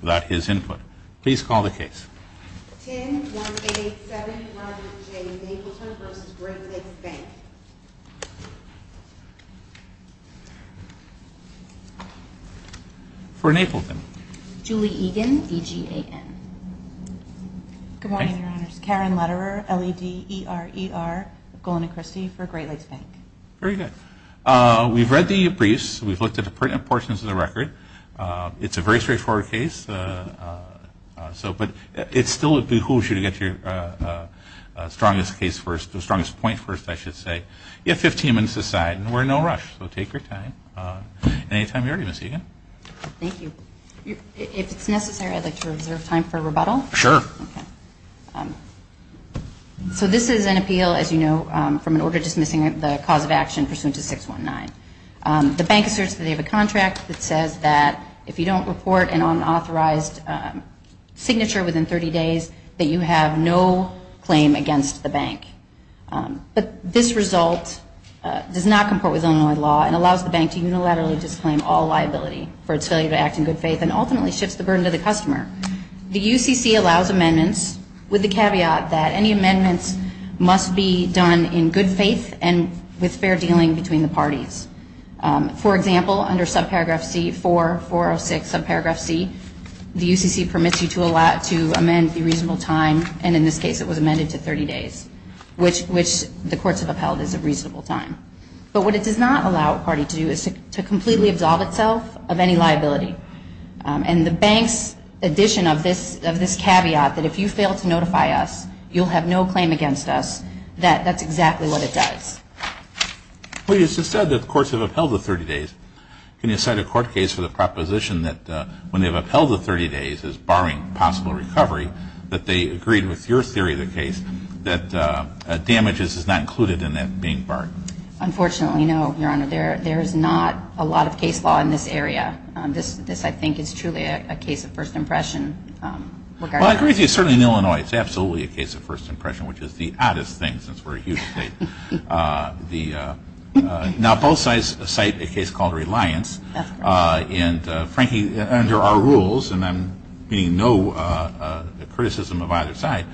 without his input. Please call the case. 10187 Robert J. Napleton v. Great Lakes Bank For Napleton. Julie Egan, EGAN Good morning, Your Honors. Karen Lederer, L-E-D-E-R-E-R, of Golana Christy, for Great Lakes Bank. Very good. We've read the briefs. We've looked at the pertinent portions of the record. It's a very straightforward case. But it still behooves you to get your strongest case first, the strongest point first, I should say. You have 15 minutes to decide, and we're in no rush, so take your time. Any time you're ready, Ms. Egan. Thank you. If it's necessary, I'd like to reserve time for rebuttal. Sure. So this is an appeal, as you know, from an order dismissing the cause of action pursuant to 619. The bank asserts that they have a contract that says that if you don't report an unauthorized signature within 30 days, that you have no claim against the bank. But this result does not comport with Illinois law and allows the bank to unilaterally disclaim all liability for its failure to act in good faith and ultimately shifts the burden to the customer. The UCC allows amendments with the caveat that any amendments must be done in good faith and with fair dealing between the parties. For example, under subparagraph C, 4406 subparagraph C, the UCC permits you to amend the reasonable time, and in this case it was amended to 30 days, which the courts have upheld as a reasonable time. But what it does not allow a party to do is to completely absolve itself of any liability. And the bank's addition of this caveat that if you fail to notify us, you'll have no claim against us, that's exactly what it does. Well, you just said that the courts have upheld the 30 days. Can you cite a court case for the proposition that when they've upheld the 30 days as barring possible recovery, that they agreed with your theory of the case that damages is not included in that being barred? Unfortunately, no, Your Honor. There is not a lot of case law in this area. This, I think, is truly a case of first impression. Well, I agree with you. Certainly in Illinois, it's absolutely a case of first impression, which is the oddest thing since we're a huge state. Now, both sides cite a case called Reliance. And, frankly, under our rules, and I'm being no criticism of either side,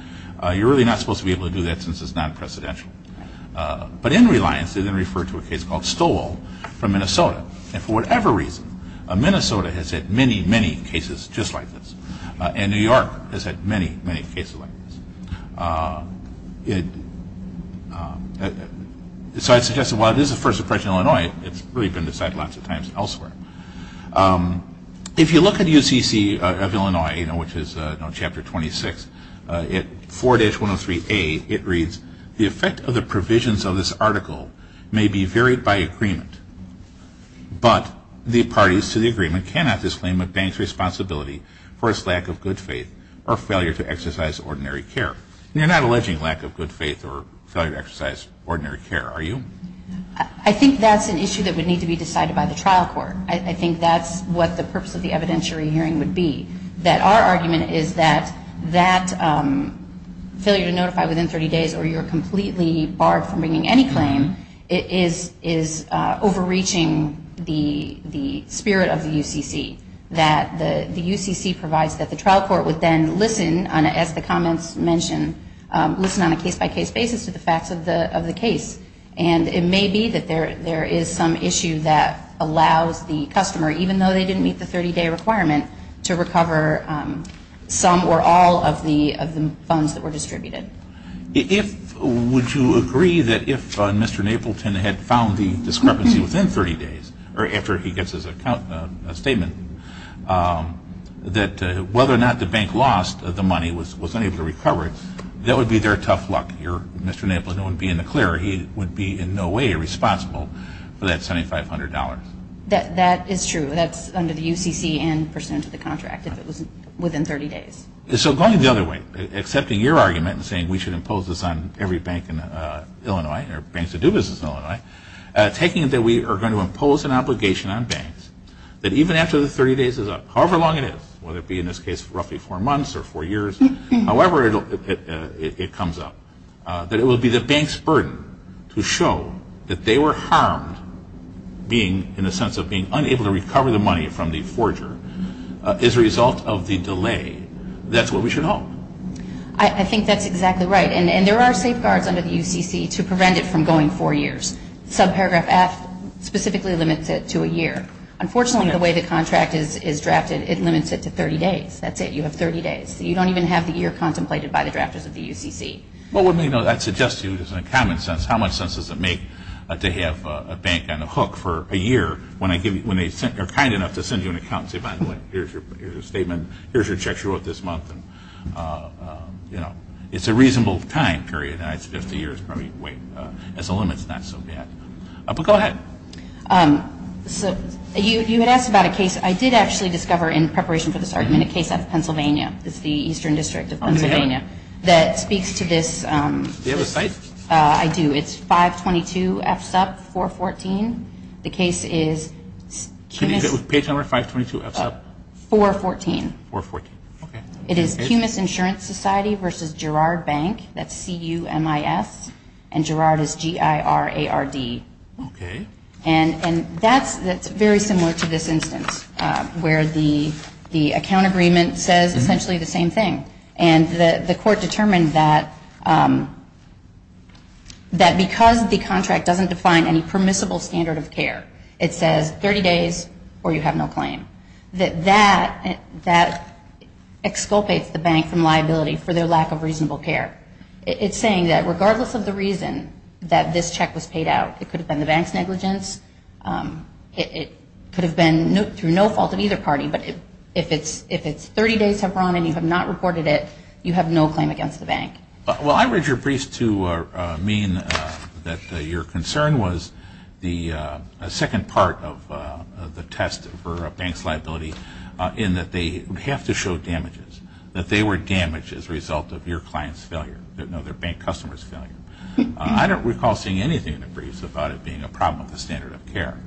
you're really not supposed to be able to do that since it's non-presidential. But in Reliance, they then refer to a case called Stowall from Minnesota. And for whatever reason, Minnesota has had many, many cases just like this. And New York has had many, many cases like this. So I suggest that while it is a first impression in Illinois, it's really been cited lots of times elsewhere. If you look at UCC of Illinois, which is Chapter 26, at 4-103A, it reads, the effect of the provisions of this article may be varied by agreement, but the parties to the agreement cannot disclaim a bank's responsibility for its lack of good faith or failure to exercise ordinary care. And you're not alleging lack of good faith or failure to exercise ordinary care, are you? I think that's an issue that would need to be decided by the trial court. I think that's what the purpose of the evidentiary hearing would be, that our argument is that that failure to notify within 30 days or you're completely barred from bringing any claim is overreaching the spirit of the UCC. That the UCC provides that the trial court would then listen, as the comments mention, listen on a case-by-case basis to the facts of the case. And it may be that there is some issue that allows the customer, even though they didn't meet the 30-day requirement, to recover some or all of the funds that were distributed. Would you agree that if Mr. Napleton had found the discrepancy within 30 days, or after he gets his statement, that whether or not the bank lost the money, was unable to recover it, that would be their tough luck? Mr. Napleton wouldn't be in the clear. He would be in no way responsible for that $7,500. That is true. That's under the UCC and pursuant to the contract, if it was within 30 days. So going the other way, accepting your argument and saying we should impose this on every bank in Illinois, or banks that do business in Illinois, taking it that we are going to impose an obligation on banks, that even after the 30 days is up, however long it is, whether it be in this case roughly four months or four years, however it comes up, that it will be the bank's burden to show that they were harmed, in the sense of being unable to recover the money from the forger, as a result of the delay. That's what we should hope. I think that's exactly right. And there are safeguards under the UCC to prevent it from going four years. Subparagraph F specifically limits it to a year. Unfortunately, the way the contract is drafted, it limits it to 30 days. That's it. You have 30 days. You don't even have the year contemplated by the drafters of the UCC. Well, let me know. I'd suggest to you, just in a common sense, how much sense does it make to have a bank on a hook for a year, when they are kind enough to send you an account and say, by the way, here's your statement, here's your check you wrote this month. It's a reasonable time period. I suggest a year is probably the limit. It's not so bad. But go ahead. You had asked about a case. I did actually discover in preparation for this argument a case out of Pennsylvania. It's the Eastern District of Pennsylvania that speaks to this. Do you have a site? I do. It's 522 F-Sub 414. The case is CUMIS Insurance Society versus Girard Bank, that's C-U-M-I-S, and Girard is G-I-R-A-R-D. Okay. And that's very similar to this instance, where the account agreement says essentially the same thing. And the court determined that because the contract doesn't define any permissible standards, it says 30 days or you have no claim. That exculpates the bank from liability for their lack of reasonable care. It's saying that regardless of the reason that this check was paid out, it could have been the bank's negligence, it could have been through no fault of either party, but if it's 30 days have gone and you have not reported it, you have no claim against the bank. Well, I read your briefs to mean that your concern was the second part of the test for a bank's liability in that they have to show damages, that they were damaged as a result of your client's failure. No, their bank customer's failure. I don't recall seeing anything in the briefs about it being a problem with the standard of care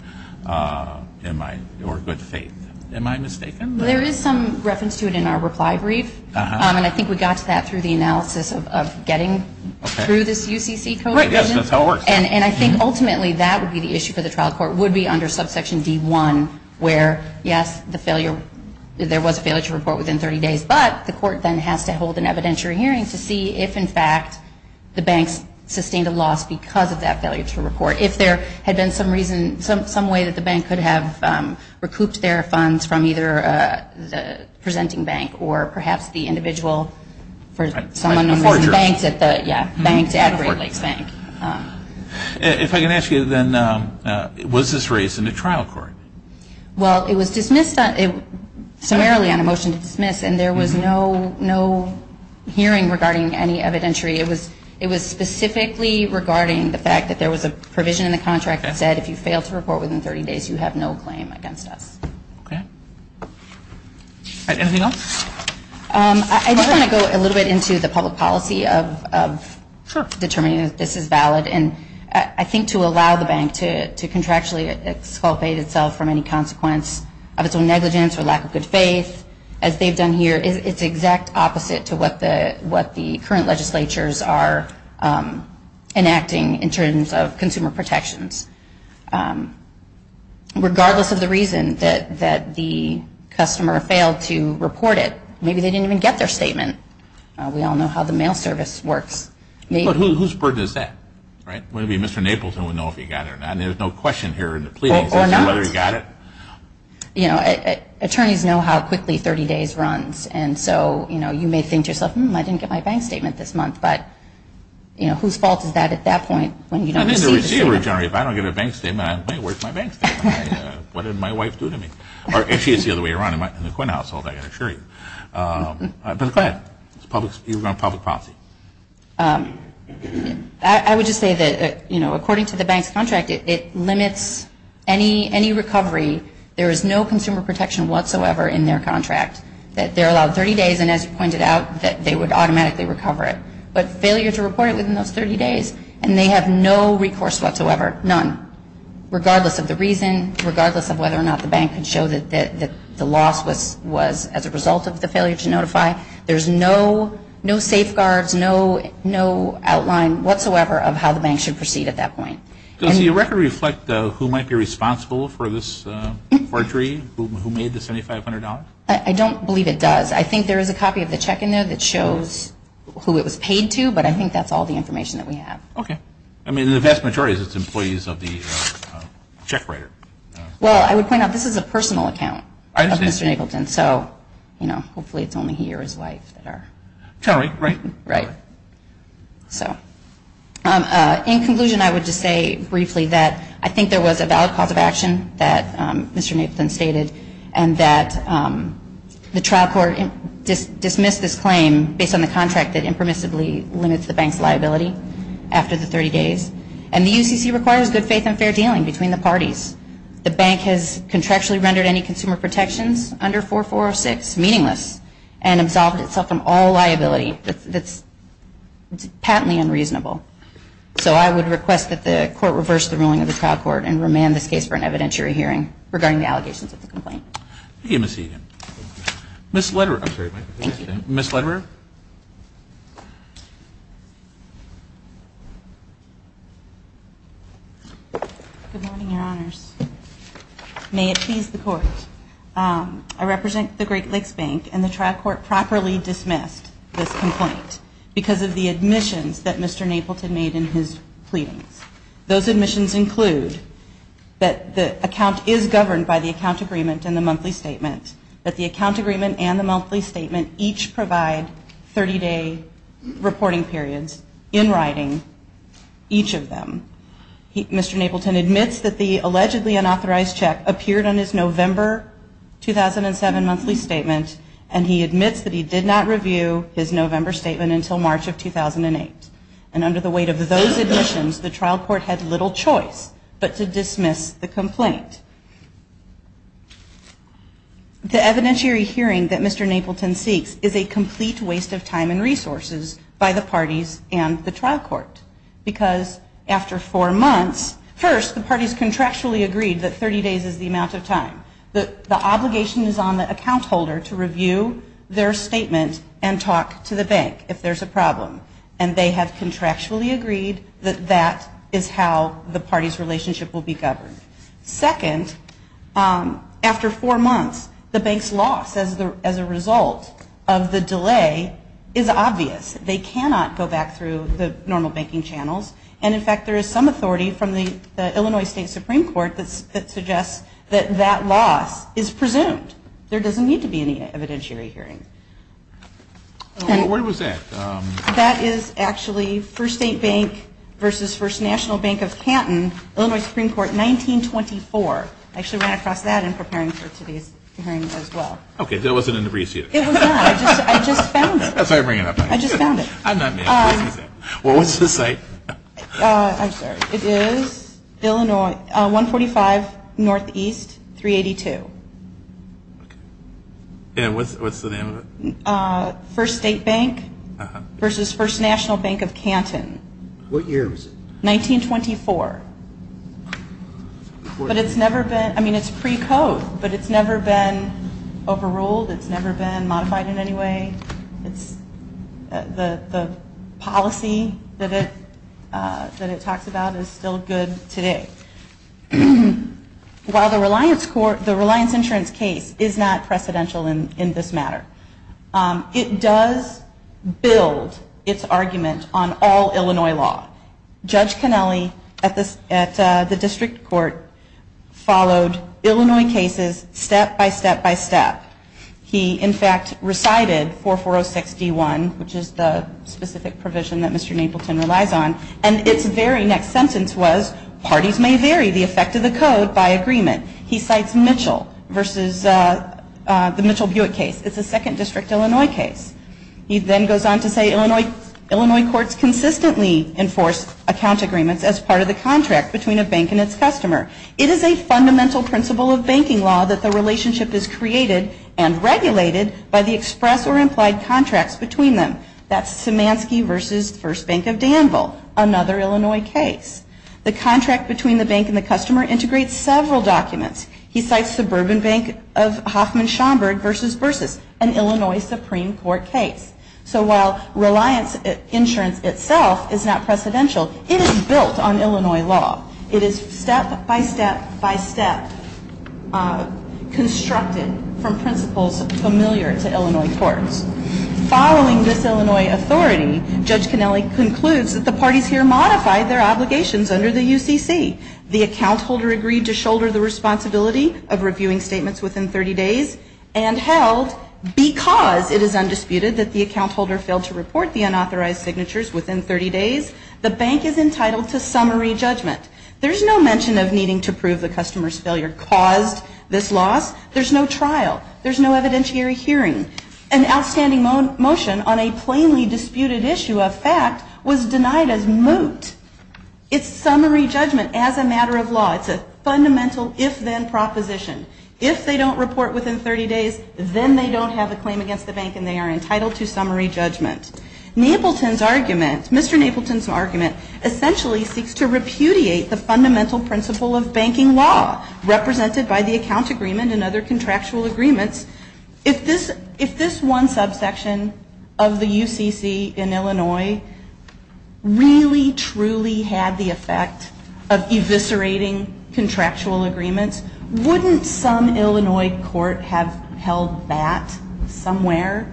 or good faith. Am I mistaken? There is some reference to it in our reply brief, and I think we got to that through the analysis of getting through this UCC code. Right, yes, that's how it works. And I think ultimately that would be the issue for the trial court, would be under subsection D1, where, yes, there was a failure to report within 30 days, but the court then has to hold an evidentiary hearing to see if, in fact, the bank's sustained a loss because of that failure to report. If there had been some reason, some way that the bank could have recouped their funds from either the presenting bank or perhaps the individual for someone who was in banks at the Great Lakes Bank. If I can ask you, then, was this raised in the trial court? Well, it was dismissed summarily on a motion to dismiss, and there was no hearing regarding any evidentiary. It was specifically regarding the fact that there was a provision in the contract that said if you fail to report within 30 days, you have no claim against us. Okay. Anything else? I just want to go a little bit into the public policy of determining if this is valid, and I think to allow the bank to contractually exculpate itself from any consequence of its own negligence or lack of good faith, as they've done here, it's the exact opposite to what the current legislatures are enacting in terms of consumer protections. Regardless of the reason that the customer failed to report it, maybe they didn't even get their statement. We all know how the mail service works. Whose burden is that, right? Maybe Mr. Naples would know if he got it or not. There's no question here in the pleadings as to whether he got it. Or not. You know, attorneys know how quickly 30 days runs, and so, you know, you may think to yourself, hmm, I didn't get my bank statement this month, but, you know, whose fault is that at that point when you don't receive it? I mean, the receiver generally, if I don't get a bank statement, I don't know where's my bank statement. What did my wife do to me? Or if she's the other way around in the courthouse, I can assure you. But go ahead. You were on public policy. I would just say that, you know, according to the bank's contract, it limits any recovery. There is no consumer protection whatsoever in their contract. That they're allowed 30 days, and as you pointed out, that they would automatically recover it. But failure to report it within those 30 days, and they have no recourse whatsoever, none, regardless of the reason, regardless of whether or not the bank can show that the loss was as a result of the failure to notify. There's no safeguards, no outline whatsoever of how the bank should proceed at that point. Does the record reflect who might be responsible for this forgery, who made the $7,500? I don't believe it does. I think there is a copy of the check in there that shows who it was paid to, but I think that's all the information that we have. Okay. I mean, the vast majority of it is employees of the check writer. Well, I would point out this is a personal account of Mr. Nagleton. And so, you know, hopefully it's only he or his wife that are. Sorry. Right. Right. So, in conclusion, I would just say briefly that I think there was a valid cause of action that Mr. Nagleton stated, and that the trial court dismissed this claim based on the contract that impermissibly limits the bank's liability after the 30 days. And the UCC requires good faith and fair dealing between the parties. The bank has contractually rendered any consumer protections under 4406 meaningless and absolved itself from all liability. That's patently unreasonable. So I would request that the court reverse the ruling of the trial court and remand this case for an evidentiary hearing regarding the allegations of the complaint. Thank you, Ms. Egan. Ms. Lederer. I'm sorry. Ms. Lederer. Ms. Lederer. Good morning, Your Honors. May it please the court, I represent the Great Lakes Bank, and the trial court properly dismissed this complaint because of the admissions that Mr. Nagleton made in his pleadings. Those admissions include that the account is governed by the account agreement and the monthly statement, that the account agreement and the monthly statement each provide 30-day reporting periods in writing, each of them. Mr. Nagleton admits that the allegedly unauthorized check appeared on his November 2007 monthly statement, and he admits that he did not review his November statement until March of 2008. And under the weight of those admissions, the trial court had little choice but to dismiss the complaint. The evidentiary hearing that Mr. Nagleton seeks is a complete waste of time and resources by the parties and the trial court, because after four months, first, the parties contractually agreed that 30 days is the amount of time. The obligation is on the account holder to review their statement and talk to the bank if there's a problem, and they have contractually agreed that that is how the party's relationship will be governed. Second, after four months, the bank's loss as a result of the delay is obvious. They cannot go back through the normal banking channels. And, in fact, there is some authority from the Illinois State Supreme Court that suggests that that loss is presumed. There doesn't need to be any evidentiary hearing. Where was that? That is actually First State Bank versus First National Bank of Canton, Illinois Supreme Court, 1924. I actually ran across that in preparing for today's hearing as well. Okay. That wasn't an abbreviation. It was not. I just found it. That's why I bring it up. I just found it. I'm not mad. Well, what's the site? I'm sorry. It is Illinois, 145 Northeast, 382. And what's the name of it? First State Bank versus First National Bank of Canton. What year was it? 1924. But it's never been, I mean, it's pre-code, but it's never been overruled. It's never been modified in any way. The policy that it talks about is still good today. While the Reliance Insurance case is not precedential in this matter, it does build its argument on all Illinois law. Judge Cannelli at the district court followed Illinois cases step by step by step. He, in fact, recited 4406D1, which is the specific provision that Mr. Napleton relies on, and its very next sentence was, parties may vary the effect of the code by agreement. He cites Mitchell versus the Mitchell-Bewick case. It's a second district Illinois case. He then goes on to say Illinois courts consistently enforce account agreements as part of the contract between a bank and its customer. It is a fundamental principle of banking law that the relationship is created and regulated by the express or implied contracts between them. That's Szymanski versus First Bank of Danville, another Illinois case. The contract between the bank and the customer integrates several documents. He cites Suburban Bank of Hoffman Schomburg versus Versus, an Illinois Supreme Court case. So while Reliance Insurance itself is not precedential, it is built on Illinois law. It is step by step by step constructed from principles familiar to Illinois courts. Following this Illinois authority, Judge Canelli concludes that the parties here modified their obligations under the UCC. The account holder agreed to shoulder the responsibility of reviewing statements within 30 days and held, because it is undisputed that the account holder failed to report the unauthorized signatures within 30 days, the bank is entitled to summary judgment. There's no mention of needing to prove the customer's failure caused this loss. There's no trial. There's no evidentiary hearing. An outstanding motion on a plainly disputed issue of fact was denied as moot. It's summary judgment as a matter of law. It's a fundamental if-then proposition. If they don't report within 30 days, then they don't have a claim against the bank and they are entitled to summary judgment. Mr. Napleton's argument essentially seeks to repudiate the fundamental principle of banking law represented by the account agreement and other contractual agreements. If this one subsection of the UCC in Illinois really, truly had the effect of eviscerating contractual agreements, wouldn't some Illinois court have held that somewhere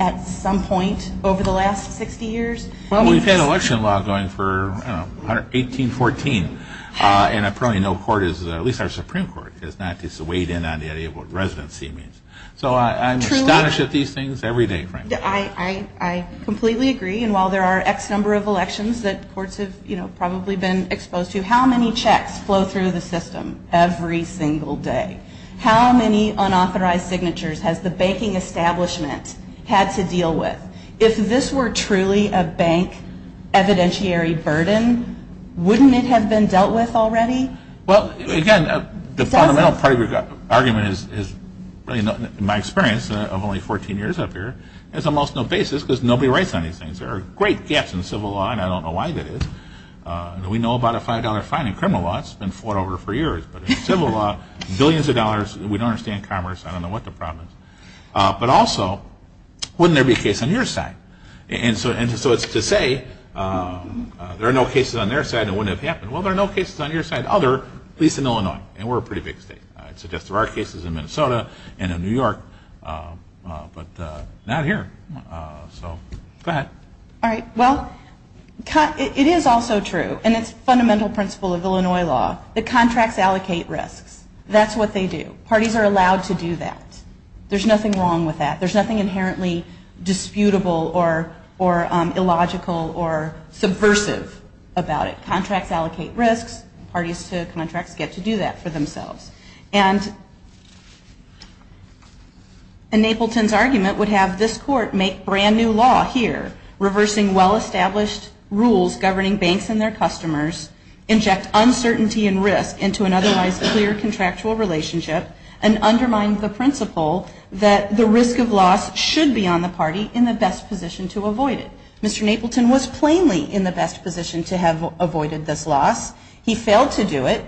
at some point over the last 60 years? Well, we've had election law going for, I don't know, 18, 14. And I probably know court is, at least our Supreme Court, has not weighed in on the idea of what residency means. So I'm astonished at these things every day, frankly. I completely agree. And while there are X number of elections that courts have probably been exposed to, how many checks flow through the system every single day? How many unauthorized signatures has the banking establishment had to deal with? If this were truly a bank evidentiary burden, wouldn't it have been dealt with already? Well, again, the fundamental part of your argument is, in my experience of only 14 years up here, there's almost no basis because nobody writes on these things. There are great gaps in civil law, and I don't know why there is. We know about a $5 fine in criminal law. It's been fought over for years. But in civil law, billions of dollars, we don't understand commerce. I don't know what the problem is. But also, wouldn't there be a case on your side? And so it's to say there are no cases on their side and it wouldn't have happened. Well, there are no cases on your side, other, at least in Illinois. And we're a pretty big state. I'd suggest there are cases in Minnesota and in New York, but not here. So go ahead. All right. Well, it is also true, and it's a fundamental principle of Illinois law, that contracts allocate risks. That's what they do. Parties are allowed to do that. There's nothing wrong with that. There's nothing inherently disputable or illogical or subversive about it. Contracts allocate risks. Parties to contracts get to do that for themselves. And Napleton's argument would have this court make brand new law here, reversing well-established rules governing banks and their customers, inject uncertainty and risk into an otherwise clear contractual relationship, and undermine the principle that the risk of loss should be on the party in the best position to avoid it. Mr. Napleton was plainly in the best position to have avoided this loss. He failed to do it.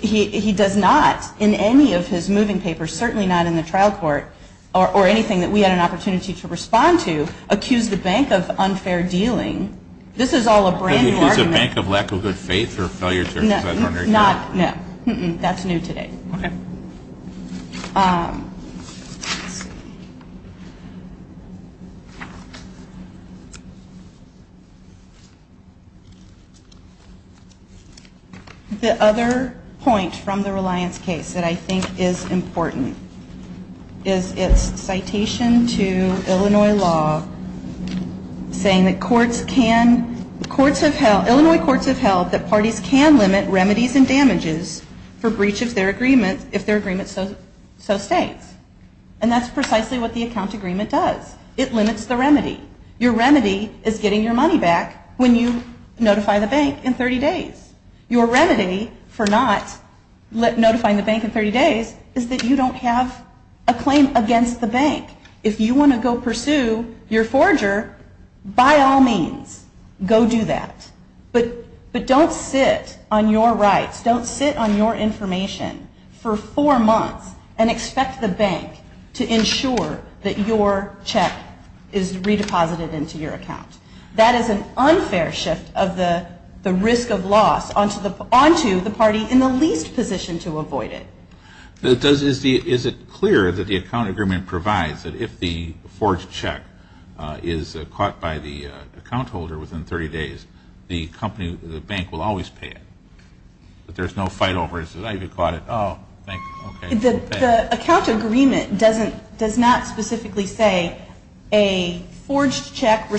He does not, in any of his moving papers, certainly not in the trial court, or anything that we had an opportunity to respond to, accuse the bank of unfair dealing. This is all a brand new argument. But he accused the bank of lack of good faith or failure to respect ordinary people. No. That's new today. Okay. The other point from the Reliance case that I think is important is its citation to Illinois law saying that Illinois courts have held that parties can limit remedies and damages for breach of their agreement if their agreement so states. And that's precisely what the account agreement does. It limits the remedy. Your remedy is getting your money back when you notify the bank in 30 days. Your remedy for not notifying the bank in 30 days is that you don't have a claim against the bank. If you want to go pursue your forger, by all means, go do that. But don't sit on your rights. Don't sit on your information for four months and expect the bank to ensure that your check is redeposited into your account. That is an unfair shift of the risk of loss onto the party in the least position to avoid it. Is it clear that the account agreement provides that if the forged check is caught by the account holder within 30 days, the bank will always pay it? That there's no fight over it? The account agreement does not specifically say a forged check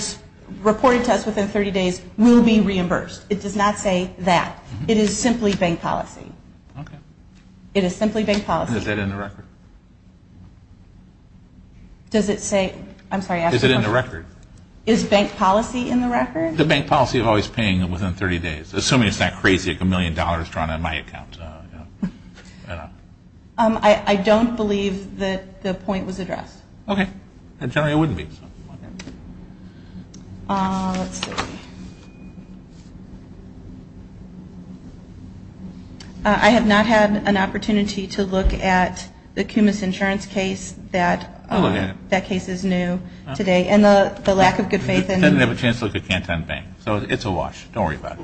reported to us within 30 days will be reimbursed. It does not say that. It is simply bank policy. It is simply bank policy. Is that in the record? Does it say? I'm sorry, ask the question. Is it in the record? Is bank policy in the record? The bank policy of always paying within 30 days. Assuming it's not crazy like a million dollars drawn on my account. I don't believe that the point was addressed. Okay. It generally wouldn't be. Let's see. I have not had an opportunity to look at the Kumis insurance case. That case is new today. And the lack of good faith. It doesn't have a chance to look at Canton Bank. So it's a wash. Don't worry about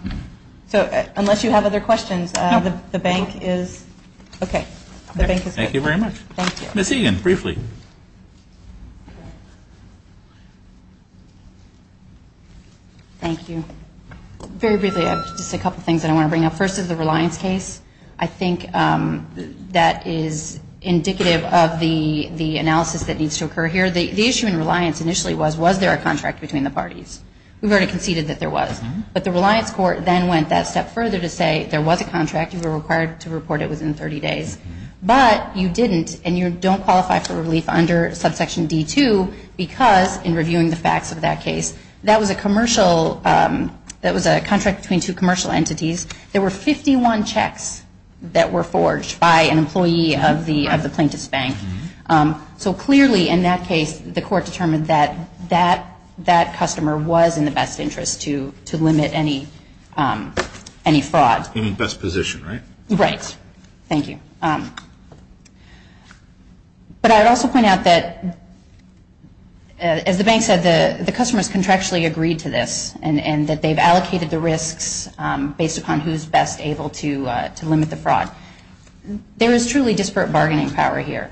it. So unless you have other questions, the bank is okay. The bank is good. Thank you very much. Thank you. Ms. Egan, briefly. Thank you. Very briefly, I have just a couple things that I want to bring up. First is the Reliance case. I think that is indicative of the analysis that needs to occur here. The issue in Reliance initially was, was there a contract between the parties? We've already conceded that there was. But the Reliance court then went that step further to say there was a contract. You were required to report it within 30 days. But you didn't, and you don't qualify for Reliance. And I believe under subsection D2, because in reviewing the facts of that case, that was a commercial, that was a contract between two commercial entities. There were 51 checks that were forged by an employee of the plaintiff's bank. So clearly in that case, the court determined that that customer was in the best interest to limit any fraud. In the best position, right? Right. Thank you. But I would also point out that, as the bank said, the customers contractually agreed to this and that they've allocated the risks based upon who's best able to limit the fraud. There is truly disparate bargaining power here.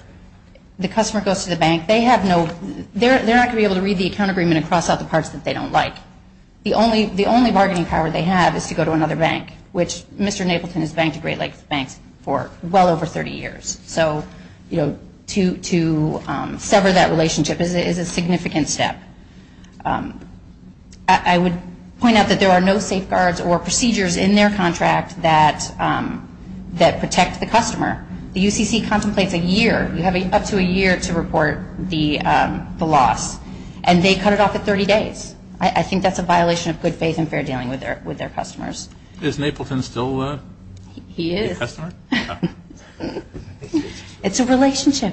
The customer goes to the bank. They have no, they're not going to be able to read the account agreement and cross out the parts that they don't like. The only bargaining power they have is to go to another bank, which Mr. Napleton has banked at Great Lakes Bank for well over 30 years. So, you know, to sever that relationship is a significant step. I would point out that there are no safeguards or procedures in their contract that protect the customer. The UCC contemplates a year. You have up to a year to report the loss. And they cut it off at 30 days. I think that's a violation of good faith and fair dealing with their customers. Is Napleton still a customer? He is. It's a relationship.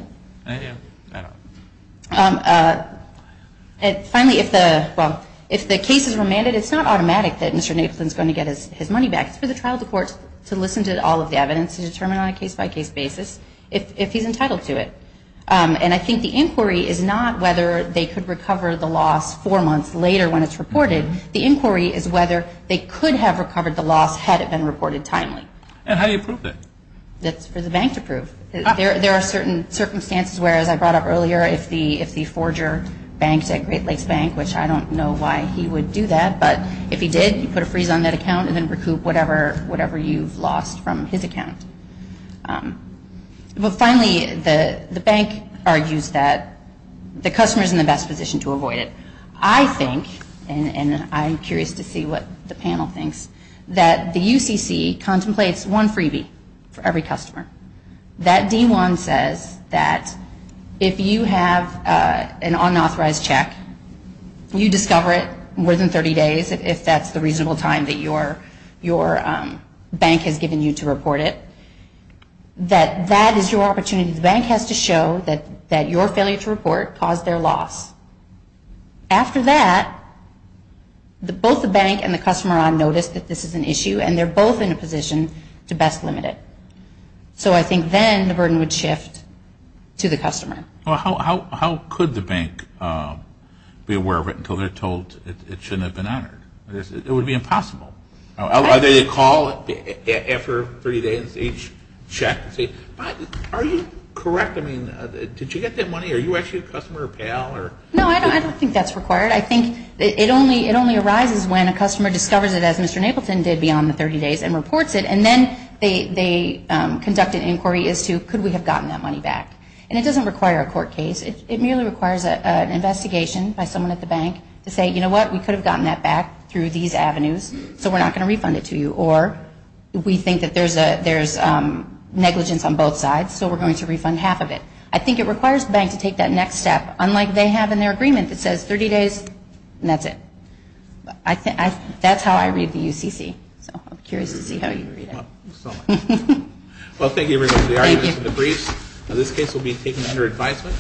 Finally, if the case is remanded, it's not automatic that Mr. Napleton is going to get his money back. It's for the trial of the courts to listen to all of the evidence and determine on a case-by-case basis if he's entitled to it. And I think the inquiry is not whether they could recover the loss four months later when it's reported. The inquiry is whether they could have recovered the loss had it been reported timely. And how do you prove it? That's for the bank to prove. There are certain circumstances where, as I brought up earlier, if the forger banks at Great Lakes Bank, which I don't know why he would do that, but if he did, you put a freeze on that account and then recoup whatever you've lost from his account. But finally, the bank argues that the customer is in the best position to avoid it. I think, and I'm curious to see what the panel thinks, that the UCC contemplates one freebie for every customer. That D1 says that if you have an unauthorized check, you discover it more than 30 days, if that's the reasonable time that your bank has given you to report it. That that is your opportunity. The bank has to show that your failure to report caused their loss. After that, both the bank and the customer are on notice that this is an issue, and they're both in a position to best limit it. Well, how could the bank be aware of it until they're told it shouldn't have been honored? It would be impossible. Either they call after 30 days, each check, and say, are you correct? I mean, did you get that money? Are you actually a customer or a pal? No, I don't think that's required. I think it only arises when a customer discovers it, as Mr. Napleton did, beyond the 30 days and reports it, and then they conduct an inquiry as to could we have gotten that money back. And it doesn't require a court case. It merely requires an investigation by someone at the bank to say, you know what, we could have gotten that back through these avenues, so we're not going to refund it to you, or we think that there's negligence on both sides, so we're going to refund half of it. I think it requires the bank to take that next step, unlike they have in their agreement that says 30 days and that's it. That's how I read the UCC, so I'm curious to see how you read it. Well, thank you, everybody, for the arguments and the briefs. This case will be taken under advisement.